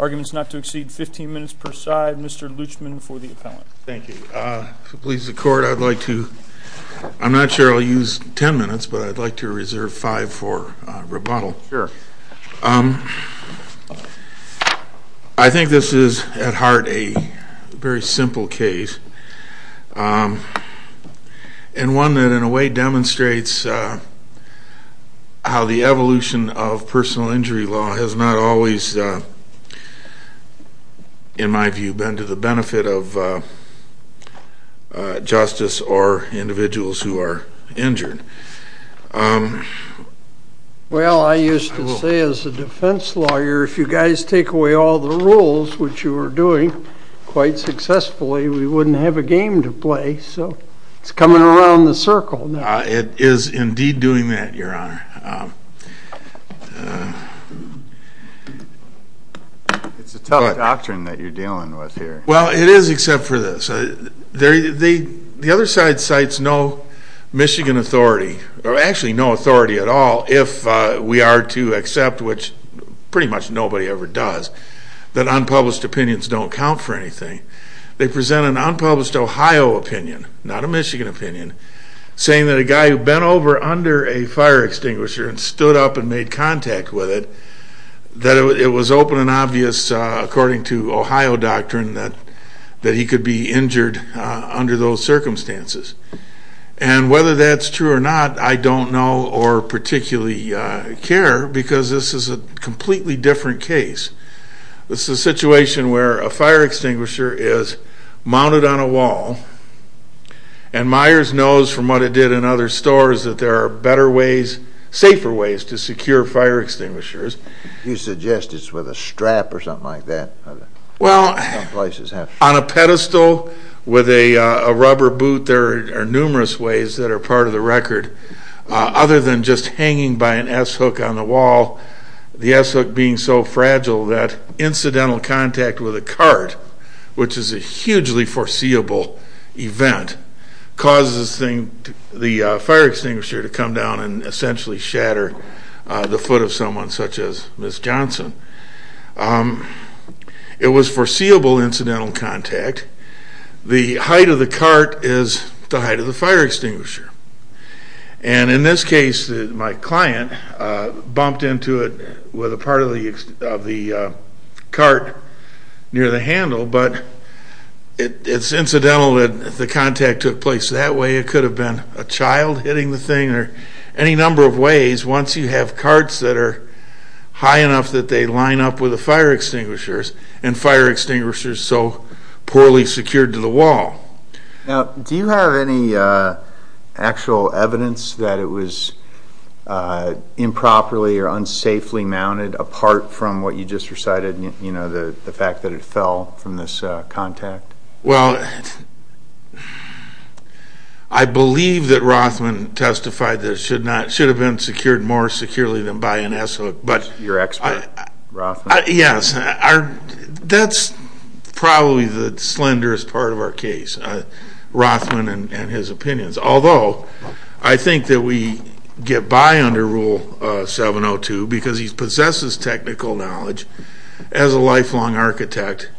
Arguments not to exceed 15 minutes per side. Mr. Luchman for the appellant. Thank you. If it pleases the court, I'd like to, I'm not sure I'll use 10 minutes, but I'd like to reserve 5 for rebuttal. Sure. I think this is at heart a very simple case. It's a very simple case. And one that in a way demonstrates how the evolution of personal injury law has not always, in my view, been to the benefit of justice or individuals who are injured. Well, I used to say as a defense lawyer, if you guys take away all the rules, which you were doing quite successfully, we wouldn't have a game to play, so it's coming around the circle now. It is indeed doing that, your honor. It's a tough doctrine that you're dealing with here. Well, it is except for this. The other side cites no Michigan authority, or actually no authority at all, if we are to accept, which pretty much nobody ever does, that unpublished opinions don't count for anything. They present an unpublished Ohio opinion, not a Michigan opinion, saying that a guy who bent over under a fire extinguisher and stood up and made contact with it, that it was open and obvious, according to Ohio doctrine, that he could be injured under those circumstances. And whether that's true or not, I don't know or particularly care, because this is a completely different case. This is a situation where a fire extinguisher is mounted on a wall and Myers knows from what it did in other stores that there are better ways safer ways to secure fire extinguishers. You suggest it's with a strap or something like that? Well, on a pedestal with a rubber boot, there are numerous ways that are part of the record, other than just hanging by an S and being so fragile that incidental contact with a cart which is a hugely foreseeable event causes the fire extinguisher to come down and essentially shatter the foot of someone, such as Ms. Johnson. It was foreseeable incidental contact. The height of the cart is the height of the fire extinguisher. And in this case, my client bumped into it with a part of the cart near the handle, but it's incidental that the contact took place. That way it could have been a child hitting the thing or any number of ways, once you have carts that are high enough that they line up with the fire extinguishers, and fire extinguishers so poorly secured to the wall. Now, do you have any actual evidence that it was improperly or unsafely mounted, apart from what you just recited, you know, the fact that it fell from this contact? Well, I believe that Rothman testified that it should have been secured more securely than by an S-hook. Your expert, Rothman? Yes, that's probably the slenderest part of our case, Rothman and his opinions. Although, I think that we get by under Rule 702 because he possesses technical knowledge as a lifelong architect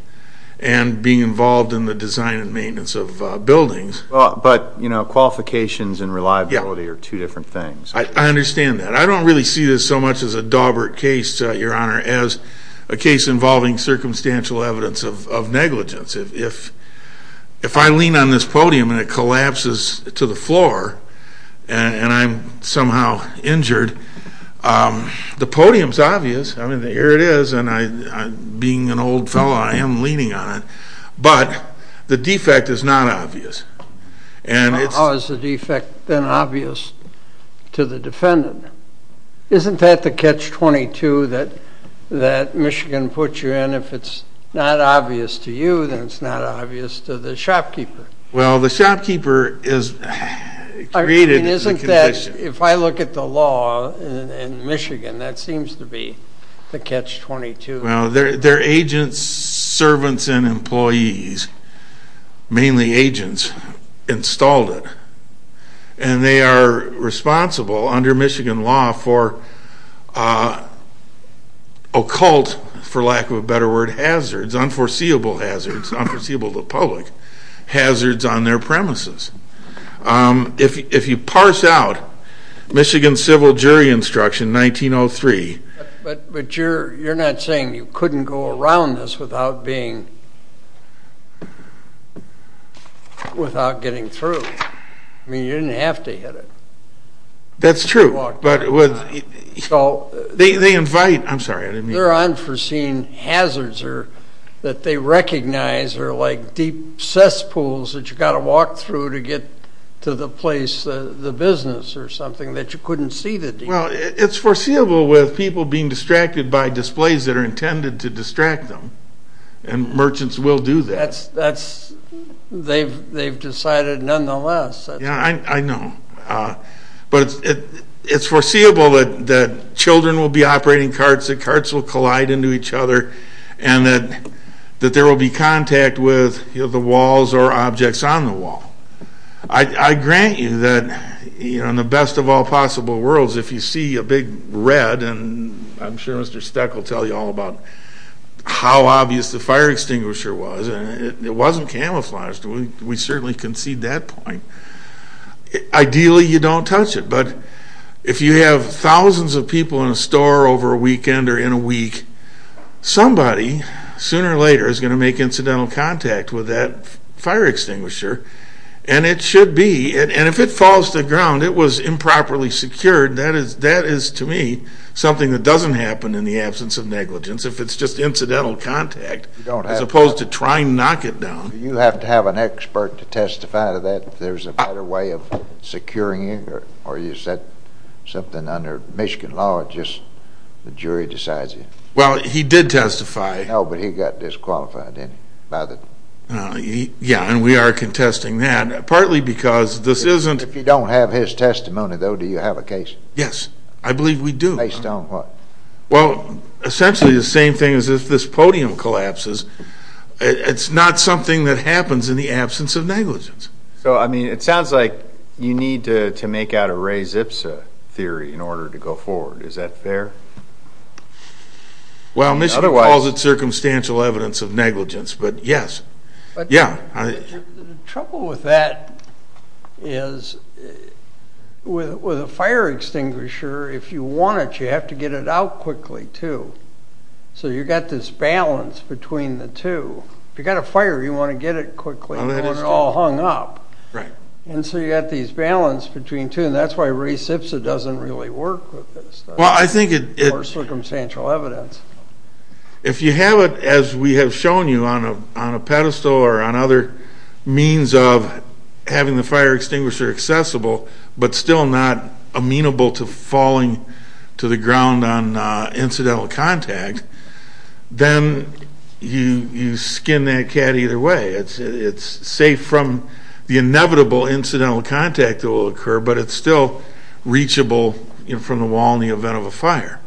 and being involved in the design and maintenance of buildings. But, you know, qualifications and reliability are two different things. I understand that. I don't really see this so much as a Dawbert case, Your Honor, as a case involving circumstantial evidence of negligence. If I lean on this podium and it collapses to the floor and I'm somehow injured, the podium's obvious. Here it is, and being an old fellow, I am leaning on it. But, the defect is not obvious. How is the defect then obvious to the defendant? Isn't that the catch-22 that Michigan puts you in? If it's not obvious to you, then it's not obvious to the shopkeeper. Well, the shopkeeper is created as a condition. If I look at the law in Michigan, that seems to be the catch-22. Well, their agents, servants, and employees, mainly agents, installed it. And they are responsible, under Michigan law, for occult, for lack of a better word, hazards, unforeseeable hazards, unforeseeable to the public, hazards on their premises. If you parse out Michigan Civil Jury Instruction, 1903... But you're not saying you couldn't go around this without being... without getting through. I mean, you didn't have to hit it. That's true. They invite... I'm sorry, I didn't mean to... Their unforeseen hazards that they recognize are like deep cesspools that you've got to walk through to get to the place, the business or something, that you couldn't see the deep. Well, it's foreseeable with people being distracted by displays that are intended to distract them. And merchants will do that. They've decided nonetheless. Yeah, I know. But it's foreseeable that children will be operating carts, that carts will collide into each other, and that there will be contact with the walls or objects on the wall. I grant you that in the best of all possible worlds, if you see a big red, and I'm sure Mr. Steck will tell you all about how obvious the fire extinguisher was, and it wasn't camouflaged. We certainly concede that point. Ideally, you don't touch it. But if you have thousands of people in a store over a weekend or in a week, somebody, sooner or later, is going to make incidental contact with that fire extinguisher. And it should be. And if it falls to the ground, it was improperly secured, that is to me, something that doesn't happen in the absence of negligence if it's just incidental contact, as opposed to trying to knock it down. You have to have an expert to testify to that, if there's a better way of something under Michigan law, just the jury decides it. Well, he did testify. No, but he got disqualified, didn't he? Yeah, and we are contesting that, partly because this isn't... If you don't have his testimony, though, do you have a case? Yes. I believe we do. Based on what? Well, essentially the same thing as if this podium collapses, it's not something that happens in the absence of negligence. So, I mean, it sounds like you need to make out a Ray Zipsa theory in order to go forward. Is that fair? Well, Michigan calls it circumstantial evidence of negligence, but yes. The trouble with that is with a fire extinguisher, if you want it, you have to get it out quickly, too. So you've got this balance between the two. If you've got a fire, you want to get it quickly. You don't want it all hung up. Right. And so you've got this balance between the two, and that's why Ray Zipsa doesn't really work with this. Well, I think it... Or circumstantial evidence. If you have it, as we have shown you, on a pedestal or on other means of having the fire extinguisher accessible, but still not amenable to falling to the ground on incidental contact, then you skin that cat either way. It's safe from the inevitable incidental contact that will occur, but it's still reachable from the wall in the event of a fire.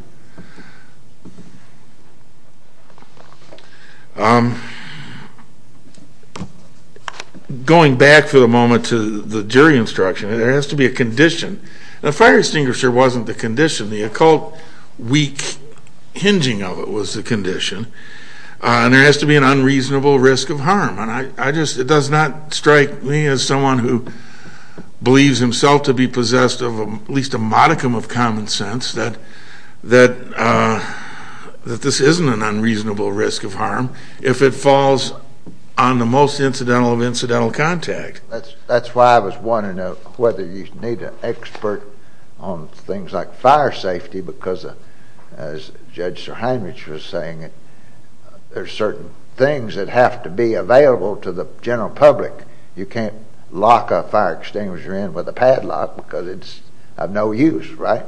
Going back for the moment to the jury instruction, there has to be a condition. A fire extinguisher wasn't the condition. The occult, weak hinging of it was the condition. And there has to be an unreasonable risk of harm. And I just... It does not strike me as someone who believes himself to be possessed of at least a modicum of common sense that this isn't an unreasonable risk of harm if it falls on the most incidental of incidental contact. That's why I was wondering whether you need an expert on things like fire safety, because as Judge Sir Heinrich was saying, there's certain things that have to be available to the general public. You can't lock a fire extinguisher in with a padlock because it's of no use, right?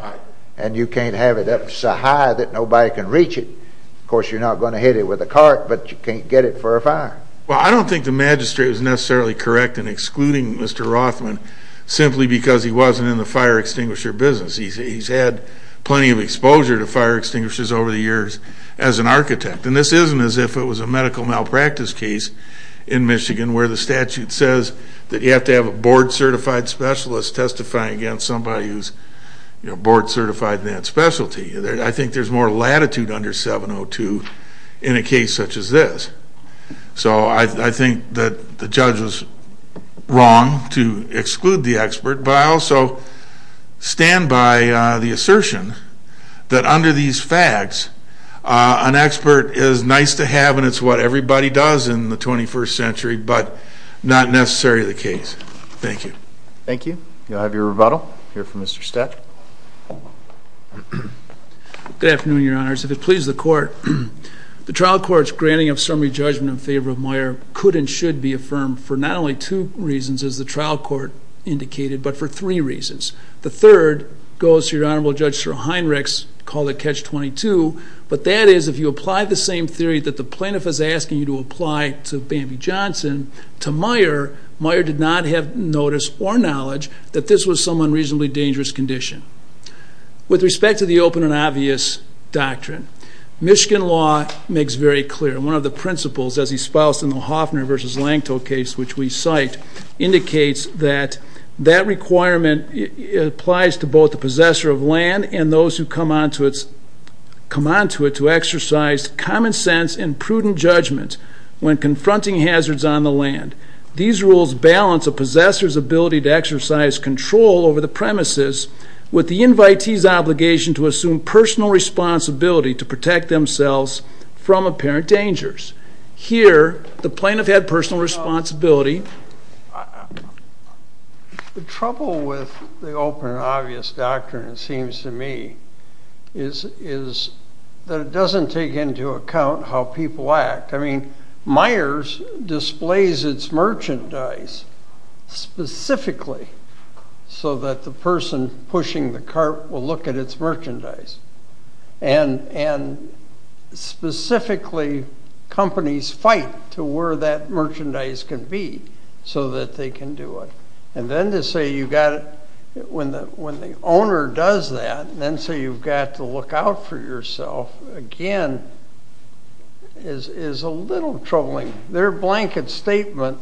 And you can't have it up so high that nobody can reach it. Of course, you're not going to hit it with a cart, but you can't get it for a fire. Well, I don't think the magistrate was necessarily correct in excluding Mr. Rothman simply because he wasn't in the fire extinguisher business. He's had plenty of exposure to fire extinguishers over the years as an architect. And this isn't as if it was a medical malpractice case in Michigan where the statute says that you have to have a board-certified specialist testifying against somebody who's board-certified in that specialty. I think there's more latitude under 702 in a case such as this. So I think that the judge was wrong to exclude the expert, but I also stand by the assertion that under these facts, an expert is nice to have and it's what everybody does in the 21st century, but not necessarily the case. Thank you. Thank you. You'll have your rebuttal here from Mr. Stett. Good afternoon, Your Honors. If it pleases the Court, the trial court's granting of summary judgment in favor of Moyer could and should be affirmed for not only two reasons, as the trial court indicated, but for three reasons. The third goes to Your Honorable Judge Sir Heinrichs, called it Catch 22, but that is if you apply the same theory that the plaintiff is asking you to apply to Bambi Johnson, to Moyer, Moyer did not have notice or knowledge that this was some unreasonably dangerous condition. With respect to the open and obvious doctrine, Michigan law makes very clear, and one of the principles, as he spouts in the Hofner v. Langtel case, which we cite, indicates that that both the possessor of land and those who come onto it to exercise common sense and prudent judgment when confronting hazards on the land. These rules balance a possessor's ability to exercise control over the premises with the invitee's obligation to assume personal responsibility to protect themselves from apparent dangers. Here, the plaintiff had personal responsibility. The trouble with the open and obvious doctrine, it seems to me, is that it doesn't take into account how people act. I mean, Myers displays its merchandise specifically so that the person pushing the cart will look at its merchandise. Specifically, companies fight to where that merchandise can be so that they can do it. And then to say you've got to, when the owner does that, and then say you've got to look out for yourself, again, is a little troubling. Their blanket statement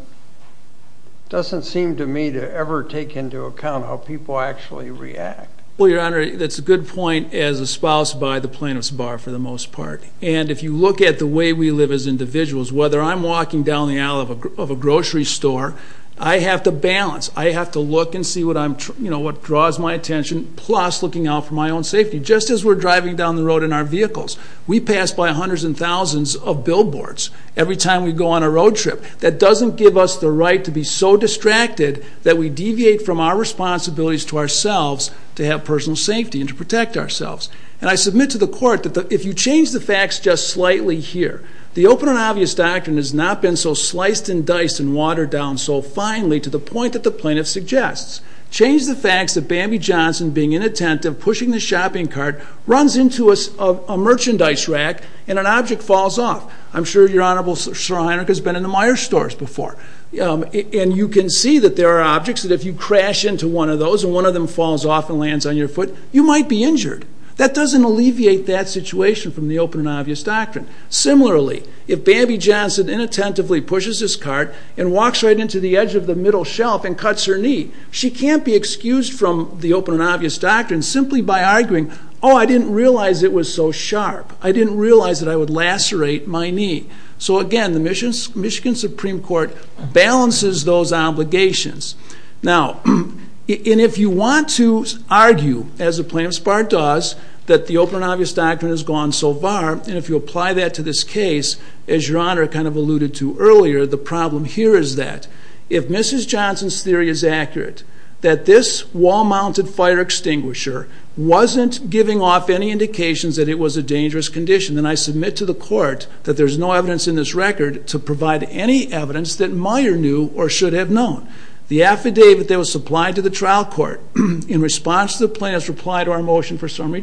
doesn't seem to me to ever take into account how people actually react. Well, Your Honor, that's a good point, as espoused by the plaintiff's bar, for the most part. And if you look at the way we live as individuals, whether I'm walking down the aisle of a grocery store, I have to balance. I have to look and see what draws my attention, plus looking out for my own safety. Just as we're driving down the road in our vehicles. We pass by hundreds and thousands of billboards every time we go on a road trip. That doesn't give us the right to be so distracted that we deviate from our responsibilities to ourselves to have personal safety and to protect ourselves. And I submit to the Court that if you change the facts just slightly here, the open and obvious doctrine has not been so sliced and diced and watered down so finely to the point that the plaintiff suggests. Change the facts that Bambi Johnson, being inattentive, pushing the shopping cart, runs into a merchandise rack and an object falls off. I'm sure Your Honor, Sir Heinrich has been in the Meijer stores before. And you can see that there are objects that if you crash into one of those and one of them falls off and lands on your foot, you might be injured. That doesn't alleviate that situation from the open and obvious doctrine. Similarly, if Bambi Johnson inattentively pushes this cart and walks right into the edge of the middle shelf and cuts her knee, she can't be excused from the open and obvious doctrine simply by arguing, oh, I didn't realize it was so sharp. I didn't realize that I would lacerate my knee. So again, the Michigan Supreme Court balances those obligations. Now, and if you want to argue, as the plaintiff's part does, that the open and obvious doctrine has gone so far, and if you apply that to this case, as Your Honor kind of alluded to earlier, the problem here is that if Mrs. Johnson's theory is accurate, that this wall-mounted fire extinguisher wasn't giving off any indications that it was a dangerous condition, then I submit to the court that there's no evidence in this record to provide any evidence that Meijer knew or should have known. The affidavit that was supplied to the trial court in response to the plaintiff's reply to our motion for Julie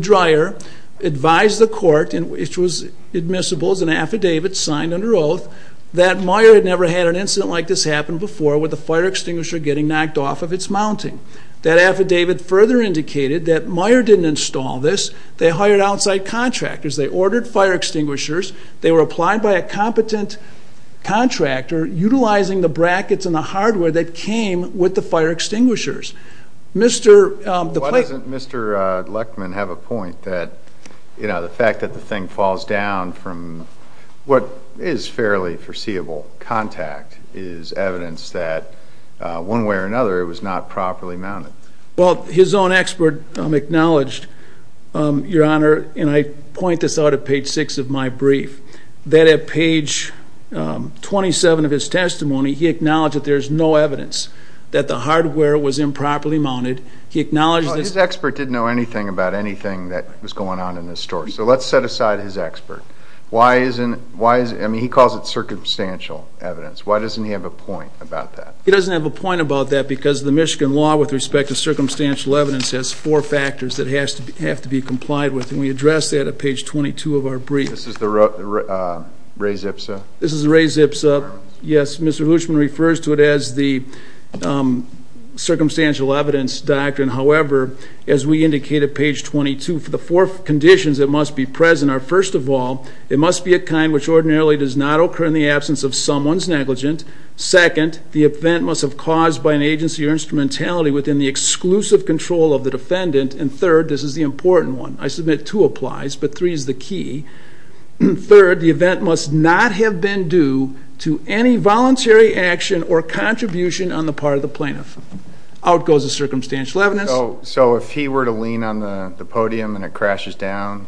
Dreyer advised the court, which was admissible as an affidavit signed under oath, that Meijer had never had an incident like this happen before with a fire extinguisher getting knocked off of its mounting. That affidavit further indicated that Meijer didn't install this. They hired outside contractors. They ordered fire extinguishers. They were applied by a competent contractor utilizing the brackets and the hardware that came with the fire extinguishers. Why doesn't Mr. Leckman have a point that the fact that the thing falls down from what is fairly foreseeable contact is evidence that one way or another it was not properly mounted? Well, his own expert acknowledged, Your Honor, and I point this out at page 6 of my brief, that at page 27 of his testimony, he acknowledged that there's no evidence that the hardware was improperly mounted. He acknowledged that... Well, his expert didn't know anything about anything that was going on in this story. So let's set aside his expert. Why isn't...I mean, he calls it circumstantial evidence. Why doesn't he have a point about that? He doesn't have a point about that because the Michigan law with respect to circumstantial evidence has four factors that have to be complied with, and we address that at page 22 of our brief. This is the Ray Zipsa? This is the Ray Zipsa, yes. Mr. Hooshman refers to it as the circumstantial evidence doctrine. However, as we indicate at page 22, the four conditions that must be present are, first of all, it must be a kind which ordinarily does not occur in the absence of someone's negligence. Second, the event must have caused by an agency or instrumentality within the exclusive control of the defendant. And third, this is the important one. I submit two applies, but three is the key. Third, the event must not have been due to any voluntary action or contribution on the part of the plaintiff. Out goes the circumstantial evidence. So if he were to lean on the podium and it crashes down,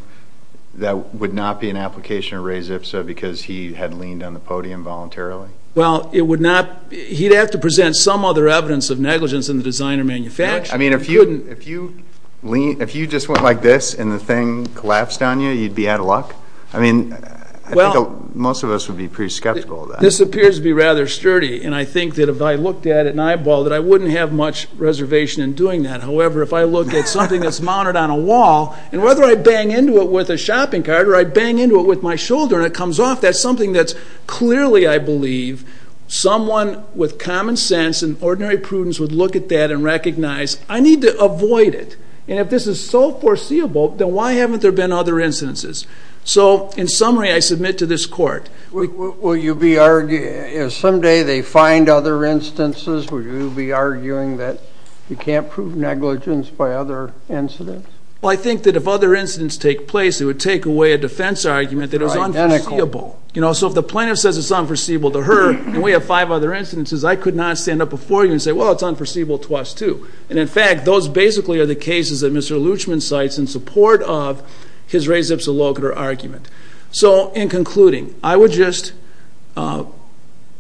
that would not be an application of Ray Zipsa because he had leaned on the podium voluntarily? Well, it would not...he'd have to present some other evidence of negligence in the design or manufacture. I mean, if you just went like this and the thing collapsed on you, you'd be out of luck? I mean, I think most of us would be pretty skeptical of that. This appears to be rather sturdy, and I think that if I looked at it and eyeballed it, I wouldn't have much reservation in doing that. However, if I look at something that's mounted on a wall, and whether I bang into it with a shopping cart or I bang into it with my shoulder and it comes off, that's something that's clearly, I believe, someone with common sense and ordinary prudence would look at that and recognize, I need to avoid it. And if this is so foreseeable, then why haven't there been other incidences? So, in summary, I submit to this court... Will you be...someday they find other instances, will you be arguing that you can't prove negligence by other incidents? Well, I think that if other incidents take place, it would take away a defense argument that it was unforeseeable. You know, so if the plaintiff says it's unforeseeable to her, and we have five other incidences, I could not stand up before you and say, well, it's unforeseeable to us too. And in fact, those basically are the cases that Mr. Luchman cites in support of his res ipsa loca argument. So, in concluding, I would just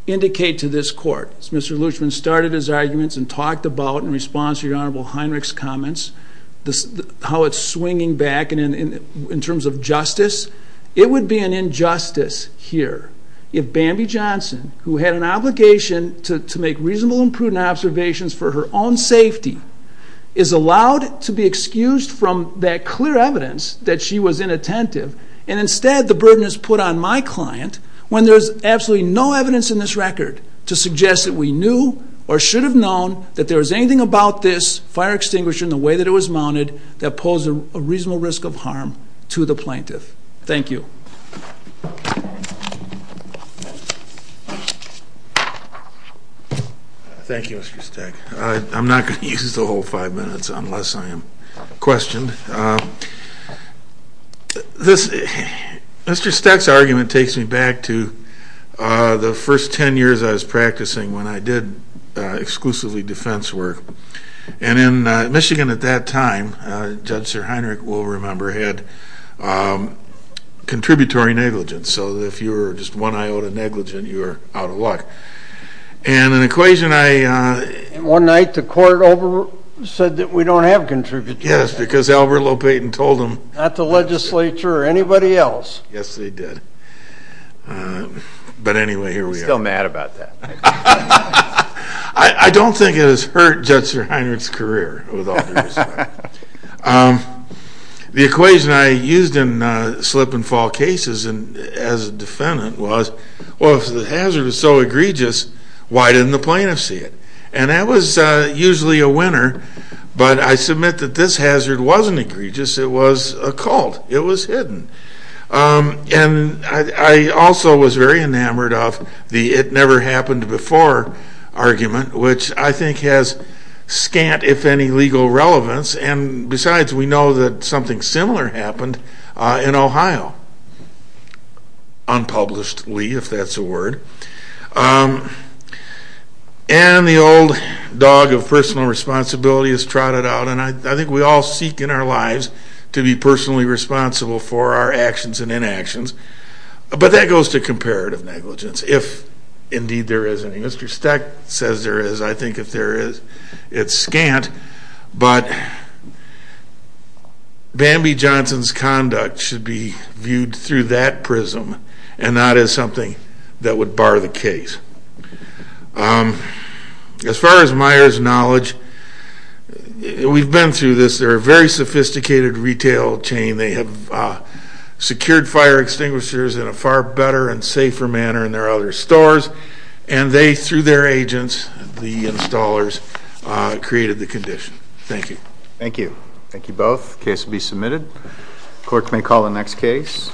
indicate to this court, as Mr. Luchman started his arguments and talked about in response to your Honorable Heinrich's comments, how it's swinging back in terms of justice, it would be an injustice here if Bambi Johnson, who had an obligation to make reasonable and prudent observations for her own safety, is allowed to be excused from that clear evidence that she was inattentive, and instead the burden is put on my client when there's absolutely no evidence in this record to suggest that we knew or should have known that there was anything about this fire extinguisher and the way that it was mounted that posed a reasonable risk of harm to the plaintiff. Thank you. Thank you, Mr. Steck. I'm not going to use the whole five minutes unless I am questioned. Mr. Steck's argument takes me back to the first ten years I was practicing when I did exclusively defense work. And in Michigan at that time, Judge Sir Heinrich will remember, had contributory negligence. So if you were just one iota negligent, you were out of luck. And an equation I... One night the court said that we don't have contributory negligence. Not the legislature or anybody else. Yes, they did. But anyway, here we are. I don't think it has hurt Judge Sir Heinrich's career with all due respect. The equation I used in slip and fall cases as a defendant was, well, if the hazard is so egregious, why didn't the plaintiff see it? And that was usually a winner, but I submit that this hazard wasn't egregious. It was a cult. It was hidden. And I also was very enamored of the it never happened before argument, which I think has scant, if any, legal relevance. And besides, we know that something similar happened in Ohio. Unpublishedly, if that's a word. And the old dog of personal responsibility is trotted out, and I think we all seek in our lives to be personally responsible for our actions and inactions. But that goes to comparative negligence, if indeed there is any. Mr. Stack says there is. I think if there is, it's scant. But Bambi Johnson's And I think that's something that should be viewed through that prism, and not as something that would bar the case. As far as Myers' knowledge, we've been through this. They're a very sophisticated retail chain. They have secured fire extinguishers in a far better and safer manner than their other stores, and they, through their agents, the installers, created the condition. Thank you. Thank you. Thank you both. Case will be submitted. Court may call the next case.